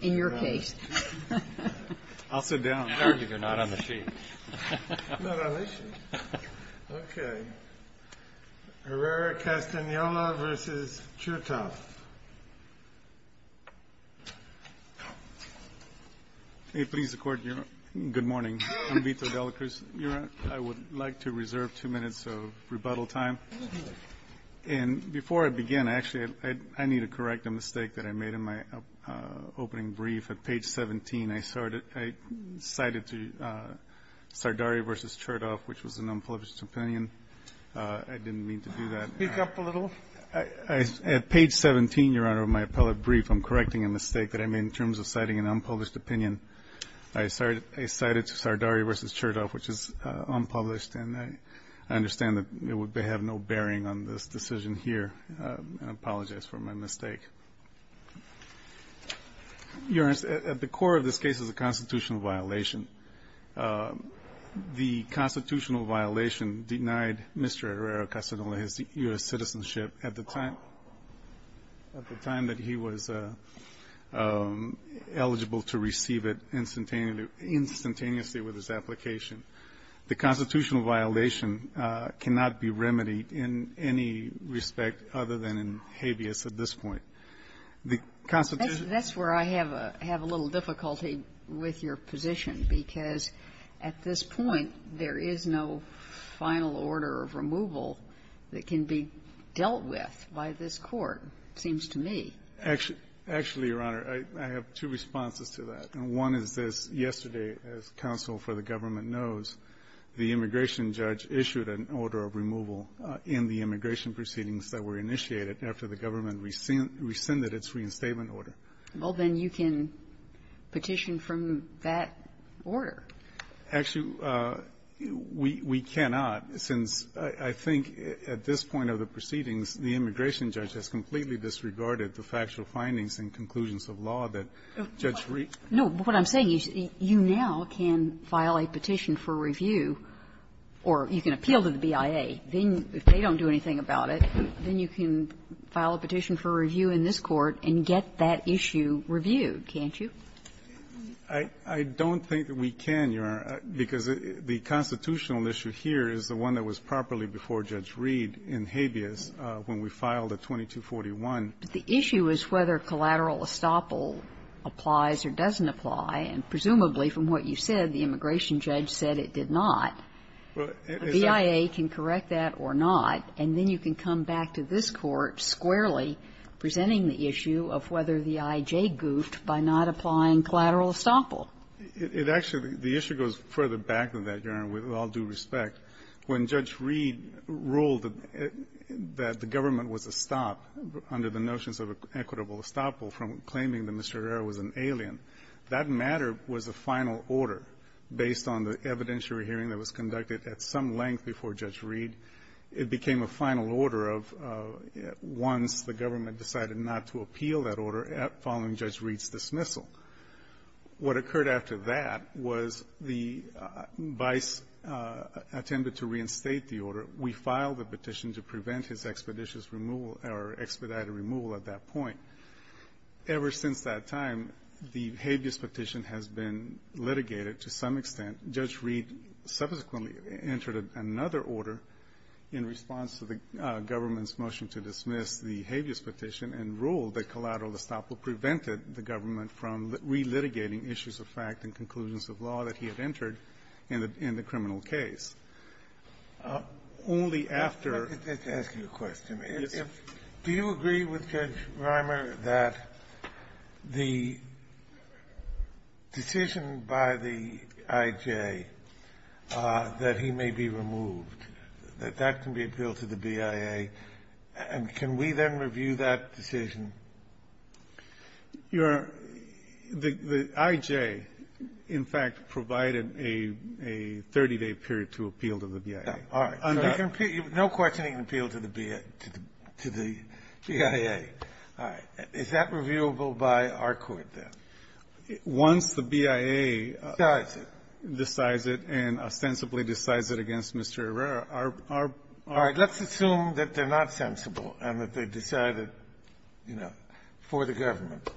In your case. I'll sit down. I'll argue they're not on the sheet. Not on this sheet? Okay. Herrera-Castanola versus Chertoff. May it please the Court, good morning. I'm Vito Delacruz. Your Honor, I would like to reserve two minutes of rebuttal time. And before I begin, actually, I need to correct a mistake that I made in my opening brief at page 17. I cited to Sardari versus Chertoff, which was an unpublished opinion. I didn't mean to do that. Speak up a little. At page 17, Your Honor, of my appellate brief, I'm correcting a mistake that I made in terms of citing an unpublished opinion. I cited to Sardari versus Chertoff, which is unpublished, and I understand that they have no bearing on this decision here. I apologize for my mistake. Your Honor, at the core of this case is a constitutional violation. The constitutional violation denied Mr. Herrera-Castanola his U.S. citizenship at the time that he was eligible to receive it instantaneously with his application. The constitutional violation cannot be remedied in any respect other than in habeas at this point. The constitutional ---- That's where I have a little difficulty with your position, because at this point, there is no final order of removal that can be dealt with by this Court, seems to me. Actually, Your Honor, I have two responses to that. One is this. Yesterday, as counsel for the government knows, the immigration judge issued an order of removal in the immigration proceedings that were initiated after the government rescinded its reinstatement order. Well, then you can petition from that order. Actually, we cannot, since I think at this point of the proceedings, the immigration judge has completely disregarded the factual findings and conclusions of law that Judge Reed ---- No. But what I'm saying is you now can file a petition for review, or you can appeal to the BIA. Then, if they don't do anything about it, then you can file a petition for review in this Court and get that issue reviewed, can't you? I don't think that we can, Your Honor, because the constitutional issue here is the one that was properly before Judge Reed in habeas when we filed at 2241. But the issue is whether collateral estoppel applies or doesn't apply. And presumably, from what you said, the immigration judge said it did not. Well, it's not ---- The BIA can correct that or not, and then you can come back to this Court squarely presenting the issue of whether the IJ goofed by not applying collateral estoppel. It actually ---- the issue goes further back than that, Your Honor, with all due respect. When Judge Reed ruled that the government was a stop under the notions of equitable estoppel from claiming that Mr. Herrera was an alien, that matter was a final order based on the evidentiary hearing that was conducted at some length before Judge Reed. It became a final order of ---- once the government decided not to appeal that order following Judge Reed's dismissal. What occurred after that was the vice attempted to reinstate the order. We filed the petition to prevent his expeditious removal or expedited removal at that point. Ever since that time, the habeas petition has been litigated to some extent. Judge Reed subsequently entered another order in response to the government's motion to dismiss the habeas petition and ruled that collateral estoppel prevented the government from relitigating issues of fact and conclusions of law that he had entered in the criminal case. Only after ---- Let me ask you a question. Yes, sir. Do you agree with Judge Reimer that the decision by the IJ that he may be removed, that that can be appealed to the BIA, and can we then review that decision? Your ---- the IJ, in fact, provided a 30-day period to appeal to the BIA. All right. No questioning an appeal to the BIA. All right. Is that reviewable by our Court, then? Once the BIA decides it and ostensibly decides it against Mr. Herrera, our ---- All right. Let's assume that they're not sensible and that they decided, you know, for the government.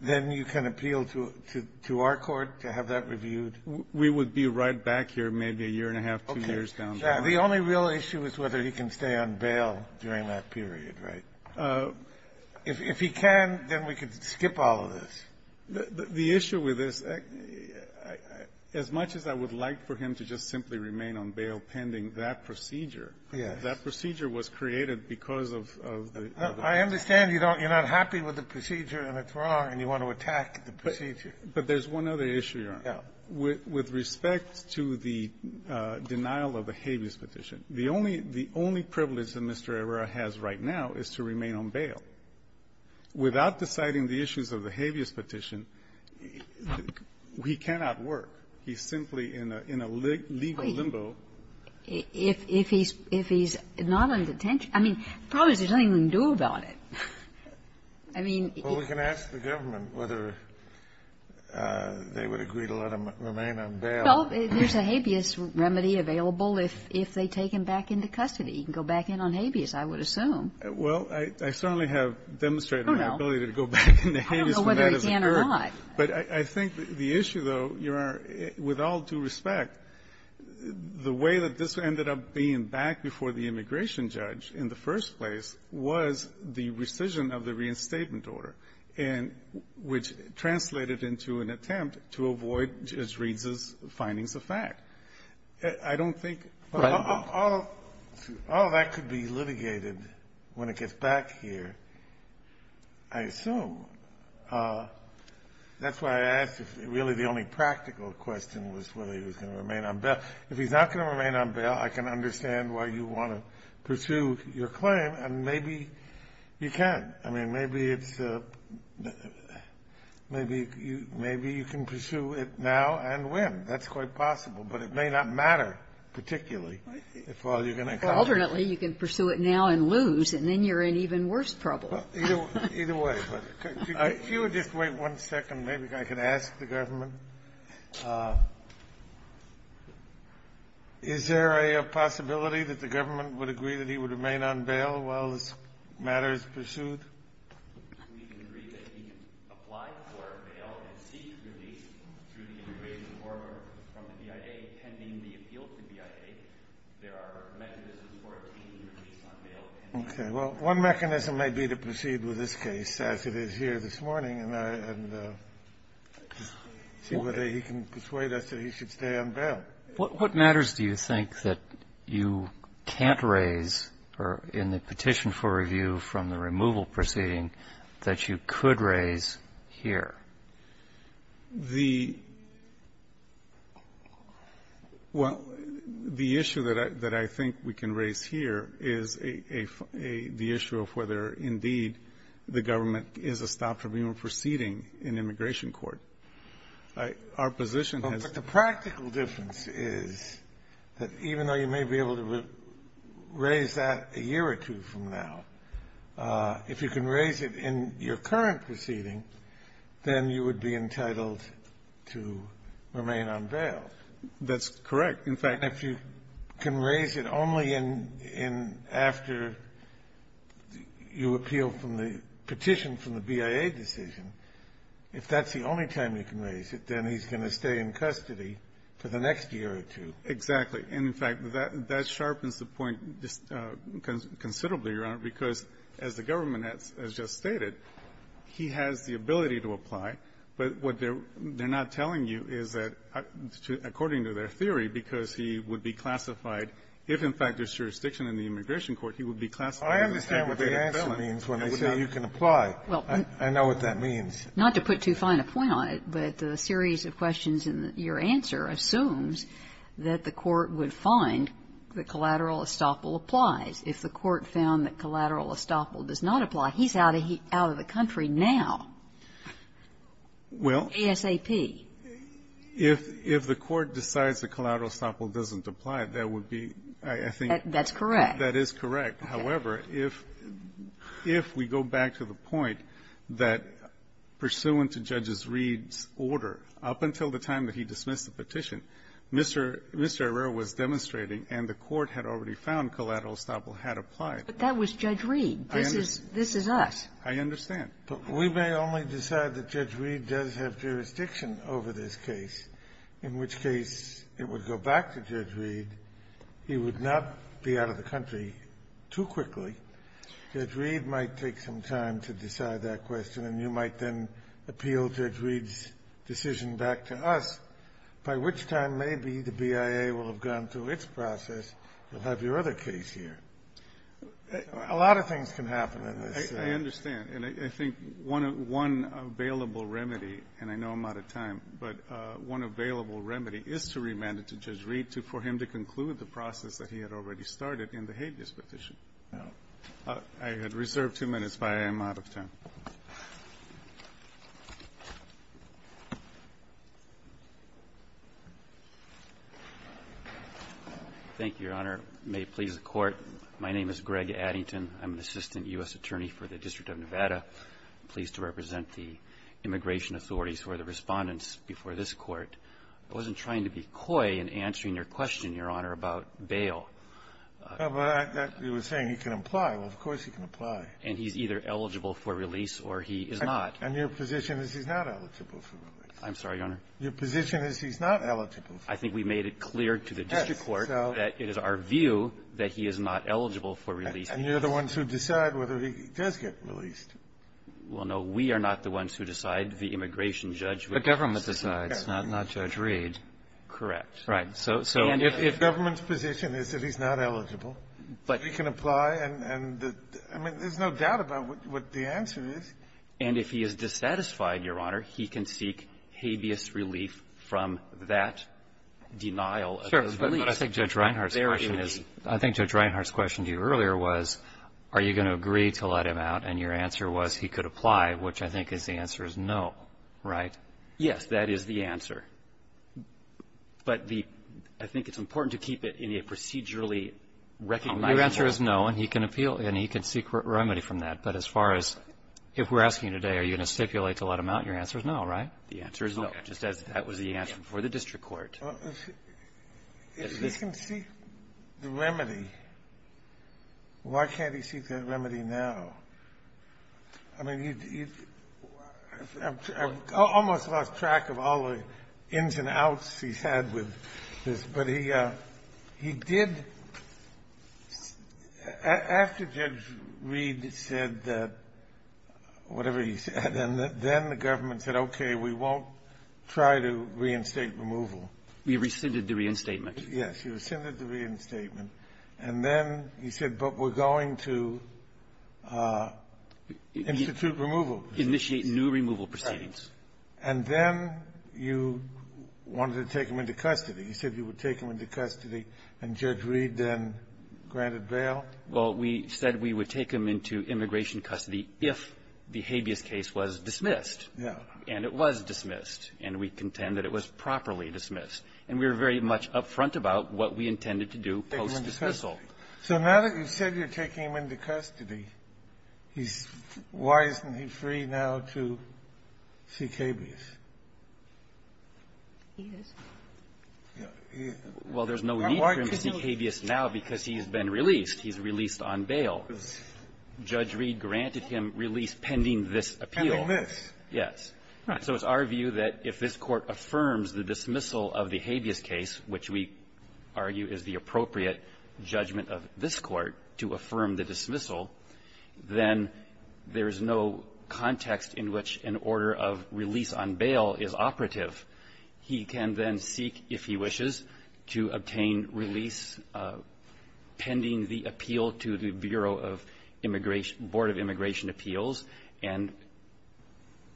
Then you can appeal to our Court to have that reviewed? We would be right back here maybe a year and a half, two years down the road. Okay. The only real issue is whether he can stay on bail during that period, right? If he can, then we could skip all of this. The issue with this, as much as I would like for him to just simply remain on bail pending that procedure, that procedure was created because of the ---- I understand you don't ---- you're not happy with the procedure and it's wrong and you want to attack the procedure. But there's one other issue, Your Honor. Yeah. With respect to the denial of the habeas petition, the only ---- the only privilege that Mr. Herrera has right now is to remain on bail. Without deciding the issues of the habeas petition, he cannot work. He's simply in a legal limbo. If he's not on detention, I mean, probably there's nothing we can do about it. I mean, if he's ---- Well, we can ask the government whether they would agree to let him remain on bail. Well, there's a habeas remedy available if they take him back into custody. He can go back in on habeas, I would assume. Well, I certainly have demonstrated my ability to go back into habeas from that as a clerk. I don't know whether he can or not. But I think the issue, though, Your Honor, with all due respect, the way that this ended up being back before the immigration judge in the first place was the rescission of the reinstatement order, and which translated into an attempt to avoid Judge Reed's findings of fact. I don't think ---- Oh, that could be litigated when it gets back here, I assume. That's why I asked if really the only practical question was whether he was going to remain on bail. If he's not going to remain on bail, I can understand why you want to pursue your claim. And maybe you can. I mean, maybe it's a ---- maybe you can pursue it now and when. That's quite possible. Alternately, you can pursue it now and lose, and then you're in even worse trouble. Either way. If you would just wait one second, maybe I could ask the government. Is there a possibility that the government would agree that he would remain on bail while this matter is pursued? We can agree that he can apply for bail and seek release through the immigration order from the BIA pending the appeal to BIA. There are mechanisms for obtaining release on bail. Okay. Well, one mechanism may be to proceed with this case as it is here this morning and see whether he can persuade us that he should stay on bail. What matters do you think that you can't raise in the petition for review from the removal proceeding that you could raise here? The ---- well, the issue that I think we can raise here is a ---- the issue of whether, indeed, the government is a stop for removal proceeding in immigration court. Our position has ---- But the practical difference is that even though you may be able to raise that a year or two from now, if you can raise it in your current proceeding, then you would be entitled to remain on bail. That's correct. In fact, if you can raise it only in ---- in after you appeal from the petition from the BIA decision, if that's the only time you can raise it, then he's going to stay in custody for the next year or two. Exactly. And, in fact, that sharpens the point considerably, Your Honor, because as the government has just stated, he has the ability to apply, but what they're not telling you is that according to their theory, because he would be classified, if, in fact, there's jurisdiction in the immigration court, he would be classified as a felon. I understand what the answer means when they say you can apply. I know what that means. Not to put too fine a point on it, but the series of questions in your answer assumes that the Court would find that collateral estoppel applies. If the Court found that collateral estoppel does not apply, he's out of the country now. Well ---- ASAP. If the Court decides that collateral estoppel doesn't apply, that would be, I think ---- That's correct. That is correct. However, if we go back to the point that pursuant to Judges Reed's order, up until the time that he dismissed the petition, Mr. Arreo was demonstrating, and the Court had already found collateral estoppel had applied. But that was Judge Reed. I understand. This is us. I understand. But we may only decide that Judge Reed does have jurisdiction over this case, in which case it would go back to Judge Reed. He would not be out of the country too quickly. Judge Reed might take some time to decide that question, and you might then appeal Judge Reed's decision back to us, by which time maybe the BIA will have gone through its process. You'll have your other case here. A lot of things can happen in this. I understand. And I think one available remedy, and I know I'm out of time, but one available remedy is to remand it to Judge Reed for him to conclude the process that he had already started in the habeas petition. I had reserved two minutes, but I am out of time. Thank you, Your Honor. May it please the Court, my name is Greg Addington. I'm an assistant U.S. attorney for the District of Nevada. I'm pleased to represent the immigration authorities who are the Respondents before this Court. I wasn't trying to be coy in answering your question, Your Honor, about bail. But I was saying he can apply. Well, of course he can apply. And he's either eligible for release or he is not. And your position is he's not eligible for release. I'm sorry, Your Honor. Your position is he's not eligible for release. I think we made it clear to the district court that it is our view that he is not eligible for release. And you're the ones who decide whether he does get released. Well, no. We are not the ones who decide. The immigration judge would. The government decides, not Judge Reed. Correct. Right. So if the government's position is that he's not eligible, he can apply. And I mean, there's no doubt about what the answer is. And if he is dissatisfied, Your Honor, he can seek habeas relief from that denial of his release. Sure. But I think Judge Reinhart's question is, I think Judge Reinhart's question to you earlier was, are you going to agree to let him out? And your answer was he could apply, which I think is the answer is no, right? Yes. That is the answer. But the, I think it's important to keep it in a procedurally recognizable Your answer is no, and he can appeal, and he can seek remedy from that. But as far as if we're asking today, are you going to stipulate to let him out? Your answer is no, right? The answer is no, just as that was the answer before the district court. If he can seek the remedy, why can't he seek that remedy now? I mean, I've almost lost track of all the ins and outs he's had with this. But he, he did, after Judge Reed said that, whatever he said, and then the government said, okay, we won't try to reinstate removal. We rescinded the reinstatement. Yes. You rescinded the reinstatement. And then he said, but we're going to institute removal. Initiate new removal proceedings. And then you wanted to take him into custody. You said you would take him into custody, and Judge Reed then granted bail? Well, we said we would take him into immigration custody if the habeas case was dismissed. Yeah. And it was dismissed, and we contend that it was properly dismissed. And we were very much up front about what we intended to do post-dismissal. So now that you've said you're taking him into custody, he's wisely free now to seek habeas. He is. Well, there's no need for him to seek habeas now because he's been released. He's released on bail. Judge Reed granted him release pending this appeal. Pending this. Yes. So it's our view that if this Court affirms the dismissal of the habeas case, which we argue is the appropriate judgment of this Court to affirm the dismissal, then there's no context in which an order of release on bail is operative. He can then seek, if he wishes, to obtain release pending the appeal to the Bureau of Immigration – Board of Immigration Appeals. And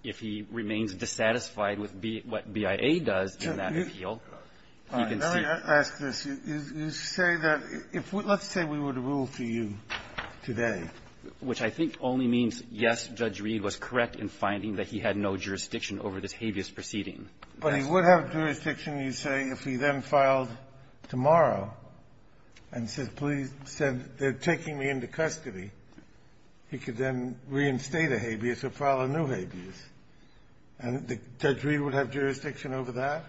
if he remains dissatisfied with what BIA does in that appeal, he can seek – which I think only means, yes, Judge Reed was correct in finding that he had no jurisdiction over this habeas proceeding. But he would have jurisdiction, you say, if he then filed tomorrow and said, please send – they're taking me into custody. He could then reinstate a habeas or file a new habeas. And Judge Reed would have jurisdiction over that?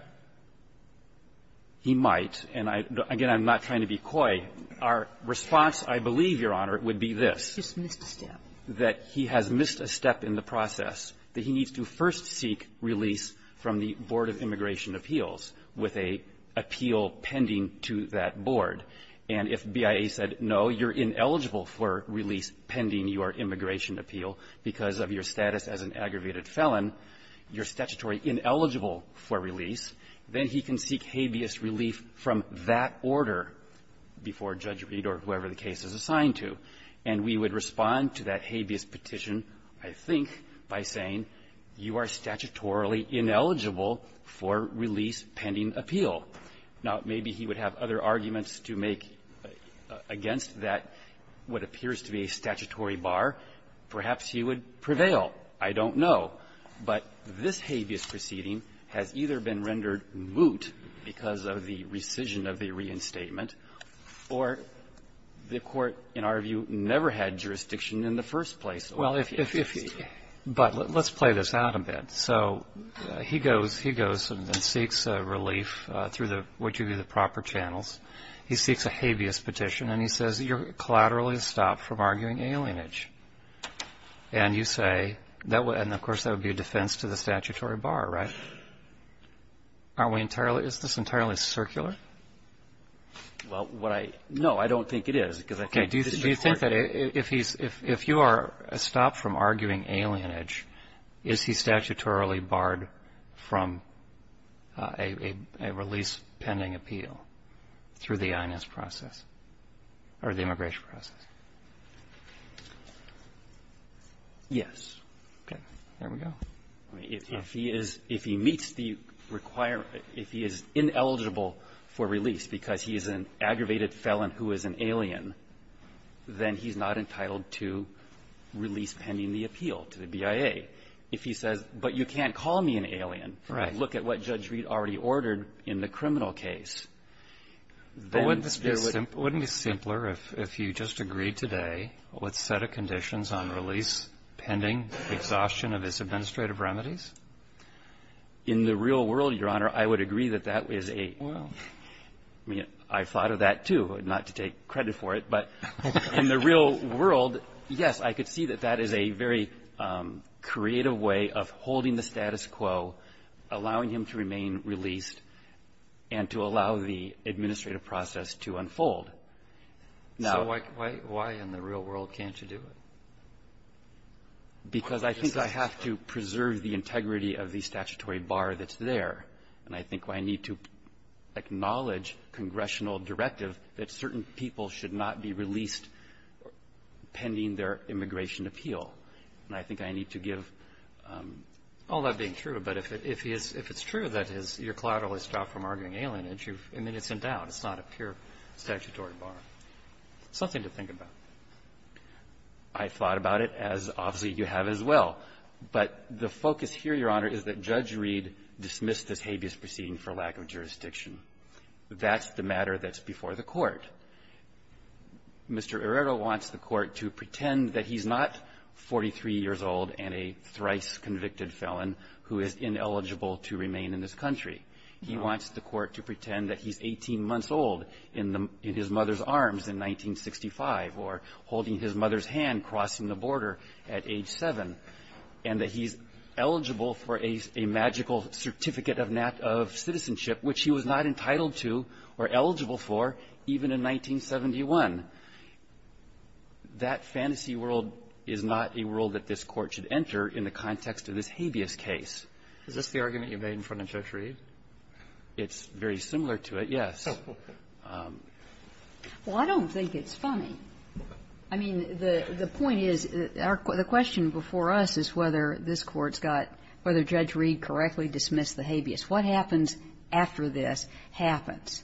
He might. And I – again, I'm not trying to be coy. Our response, I believe, Your Honor, would be this. He's just missed a step. That he has missed a step in the process. That he needs to first seek release from the Board of Immigration Appeals with a appeal pending to that board. And if BIA said, no, you're ineligible for release pending your immigration appeal because of your status as an aggravated felon, you're statutory ineligible for release, then he can seek habeas relief from that order before Judge Reed or whoever the case is assigned to. And we would respond to that habeas petition, I think, by saying, you are statutorily ineligible for release pending appeal. Now, maybe he would have other arguments to make against that what appears to be a statutory bar. Perhaps he would prevail. I don't know. But this habeas proceeding has either been rendered moot because of the rescission of the reinstatement, or the court, in our view, never had jurisdiction in the first place. Well, if he, but let's play this out a bit. So he goes and seeks relief through what you view as the proper channels. He seeks a habeas petition, and he says, you're collaterally stopped from arguing alienage. And you say, and of course, that would be a defense to the statutory bar, right? Are we entirely, is this entirely circular? Well, what I, no, I don't think it is, because I think this is a court case. Okay. Do you think that if he's, if you are stopped from arguing alienage, is he statutorily barred from a release pending appeal through the INS process, or the immigration process? Yes. Okay. There we go. If he is, if he meets the requirement, if he is ineligible for release because he is an aggravated felon who is an alien, then he's not entitled to release pending the appeal to the BIA. If he says, but you can't call me an alien, look at what Judge Reed already ordered in the criminal case, then this would be a. Wouldn't it be simpler if you just agreed today what set of conditions on release pending exhaustion of his administrative remedies? In the real world, Your Honor, I would agree that that is a. Well. I mean, I thought of that too, not to take credit for it, but in the real world, yes, I could see that that is a very creative way of holding the status quo, allowing him to remain released and to allow the administrative process to unfold. Now. So why in the real world can't you do it? Because I think I have to preserve the integrity of the statutory bar that's there. And I think I need to acknowledge congressional directive that certain people should not be released pending their immigration appeal. And I think I need to give all that being true. But if it's true that your collateral is stopped from arguing alienage, I mean, it's not a pure statutory bar. Something to think about. I thought about it, as obviously you have as well. But the focus here, Your Honor, is that Judge Reed dismissed this habeas proceeding for lack of jurisdiction. That's the matter that's before the Court. Mr. Areto wants the Court to pretend that he's not 43 years old and a thrice-convicted felon who is ineligible to remain in this country. He wants the Court to pretend that he's 18 months old in his mother's arms in 1965 or holding his mother's hand crossing the border at age 7, and that he's eligible for a magical certificate of citizenship, which he was not entitled to or eligible for even in 1971. That fantasy world is not a world that this Court should enter in the context of this habeas case. Is this the argument you made in front of Judge Reed? It's very similar to it, yes. Well, I don't think it's funny. I mean, the point is, the question before us is whether this Court's got – whether Judge Reed correctly dismissed the habeas. What happens after this happens,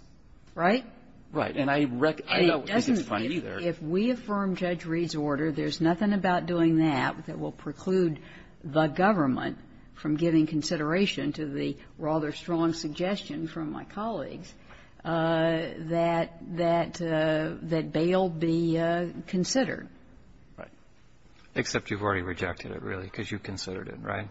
right? Right. And I reckon – I don't think it's funny either. If we affirm Judge Reed's order, there's nothing about doing that that will preclude the government from giving consideration to the rather strong suggestion from my colleagues that – that bail be considered. Right. Except you've already rejected it, really, because you considered it, right?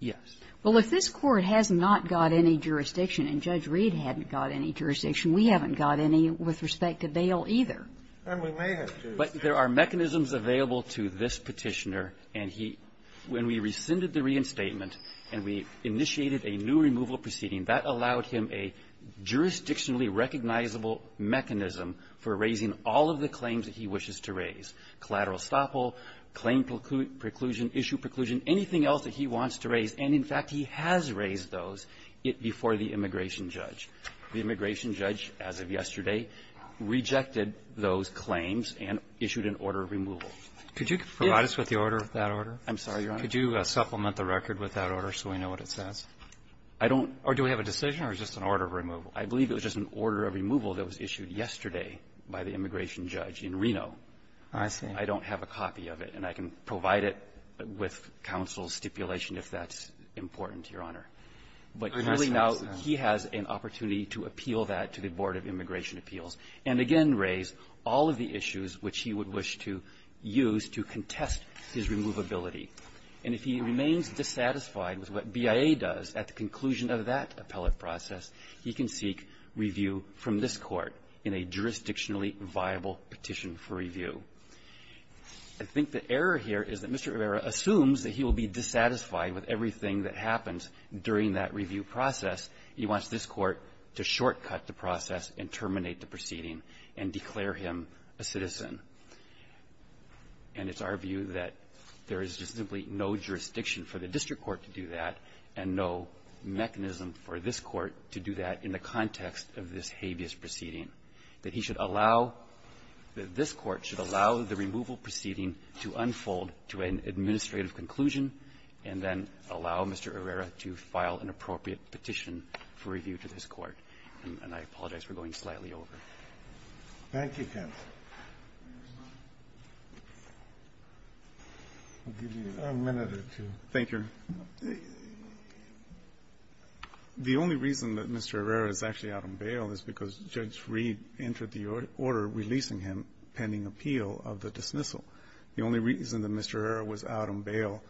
Yes. Well, if this Court has not got any jurisdiction, and Judge Reed hadn't got any jurisdiction, we haven't got any with respect to bail either. And we may have to. But there are mechanisms available to this Petitioner. And he – when we rescinded the reinstatement, and we initiated a new removal proceeding, that allowed him a jurisdictionally recognizable mechanism for raising all of the claims that he wishes to raise, collateral estoppel, claim preclusion, issue preclusion, anything else that he wants to raise. And, in fact, he has raised those before the immigration judge. The immigration judge, as of yesterday, rejected those claims and issued an order of removal. Could you provide us with the order of that order? I'm sorry, Your Honor. Could you supplement the record with that order so we know what it says? I don't – Or do we have a decision or just an order of removal? I believe it was just an order of removal that was issued yesterday by the immigration judge in Reno. I see. I don't have a copy of it. And I can provide it with counsel's stipulation if that's important, Your Honor. But really now, he has an opportunity to appeal that to the Board of Immigration Appeals and again raise all of the issues which he would wish to use to contest his removability. And if he remains dissatisfied with what BIA does at the conclusion of that appellate process, he can seek review from this Court in a jurisdictionally viable petition for review. I think the error here is that Mr. Rivera assumes that he will be dissatisfied with everything that happens during that review process. He wants this Court to shortcut the process and terminate the proceeding and declare him a citizen. And it's our view that there is just simply no jurisdiction for the district court to do that and no mechanism for this Court to do that in the context of this habeas proceeding, that he should allow – that this Court should allow the removal proceeding to unfold to an administrative conclusion, and then allow Mr. Rivera to file an appropriate petition for review to this Court. And I apologize for going slightly over. Thank you, counsel. I'll give you a minute or two. Thank you. The only reason that Mr. Rivera is actually out on bail is because Judge Reed entered the order releasing him pending appeal of the dismissal. The only reason that Mr. Rivera was out on bail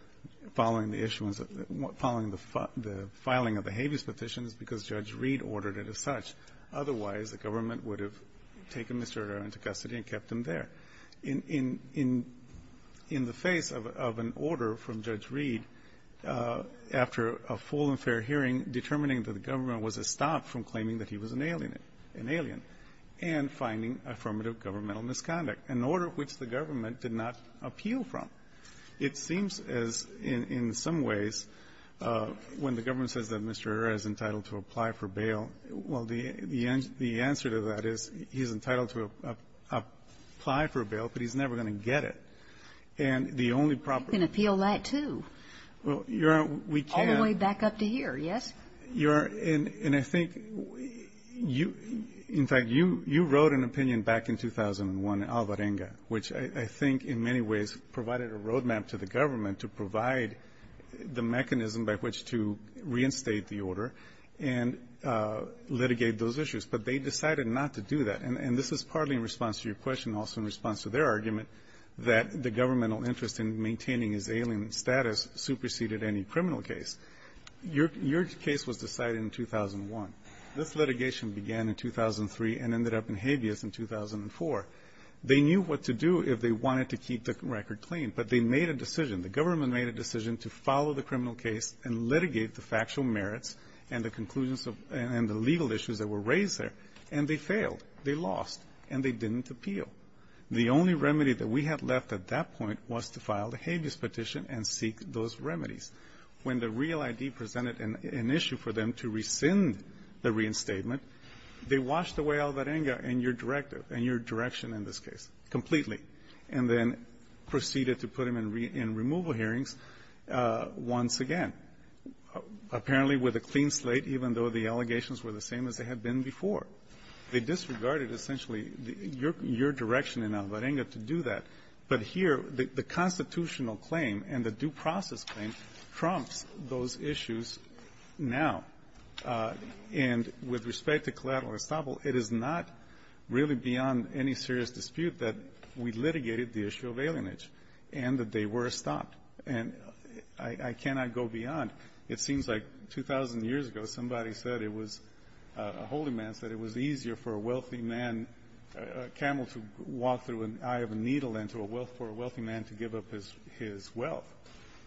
following the issuance of the – following the filing of the habeas petition is because Judge Reed ordered it as such. Otherwise, the government would have taken Mr. Rivera into custody and kept him there. In the face of an order from Judge Reed, after a full and fair hearing, determining that the government was a stop from claiming that he was an alien, an alien and finding affirmative governmental misconduct, an order which the government did not appeal from, it seems as, in some ways, when the government says that Mr. Rivera is entitled to apply for bail, well, the answer to that is he's entitled to apply for bail, but he's never going to get it. And the only proper – You can appeal that, too. Well, Your Honor, we can't – All the way back up to here, yes? Your – and I think you – in fact, you wrote an opinion back in 2001 in Alvarenga, which I think in many ways provided a roadmap to the government to provide the mechanism by which to reinstate the order and litigate those issues. But they decided not to do that. And this is partly in response to your question, also in response to their argument that the governmental interest in maintaining his alien status superseded any criminal case. Your case was decided in 2001. This litigation began in 2003 and ended up in habeas in 2004. They knew what to do if they wanted to keep the record clean, but they made a decision. The government made a decision to follow the criminal case and litigate the factual merits and the conclusions of – and the legal issues that were raised there. And they failed. They lost. And they didn't appeal. The only remedy that we had left at that point was to file the habeas petition and seek those remedies. When the Real ID presented an issue for them to rescind the reinstatement, they washed away Alvarenga and your direction in this case, completely, and then proceeded to put him in removal hearings once again, apparently with a clean slate, even though the allegations were the same as they had been before. They disregarded, essentially, your direction in Alvarenga to do that. But here, the constitutional claim and the due process claim trumps those issues now. And with respect to collateral estoppel, it is not really beyond any serious dispute that we litigated the issue of alienage and that they were stopped. And I cannot go beyond. It seems like 2,000 years ago, somebody said it was – a holy man said it was easier for a wealthy man – a camel to walk through an eye of a needle than for a wealthy man to give up his wealth.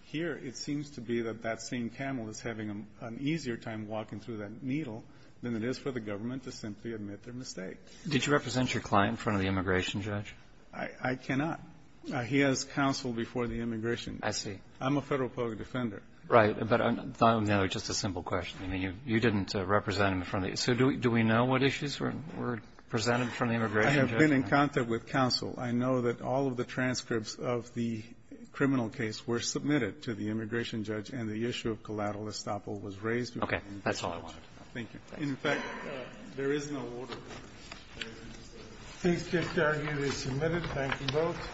Here, it seems to be that that same camel is having an easier time walking through that needle than it is for the government to simply admit their mistake. Roberts. Did you represent your client in front of the immigration judge? I cannot. He has counsel before the immigration judge. I see. I'm a federal public defender. Right. But I don't know. Just a simple question. I mean, you didn't represent him in front of the – so do we know what issues were presented in front of the immigration judge? I have been in contact with counsel. I know that all of the transcripts of the criminal case were submitted to the immigration judge, and the issue of collateral estoppel was raised. Okay. That's all I wanted to know. Thank you. In fact, there is no order. Please take care of your submitted. Thank you both.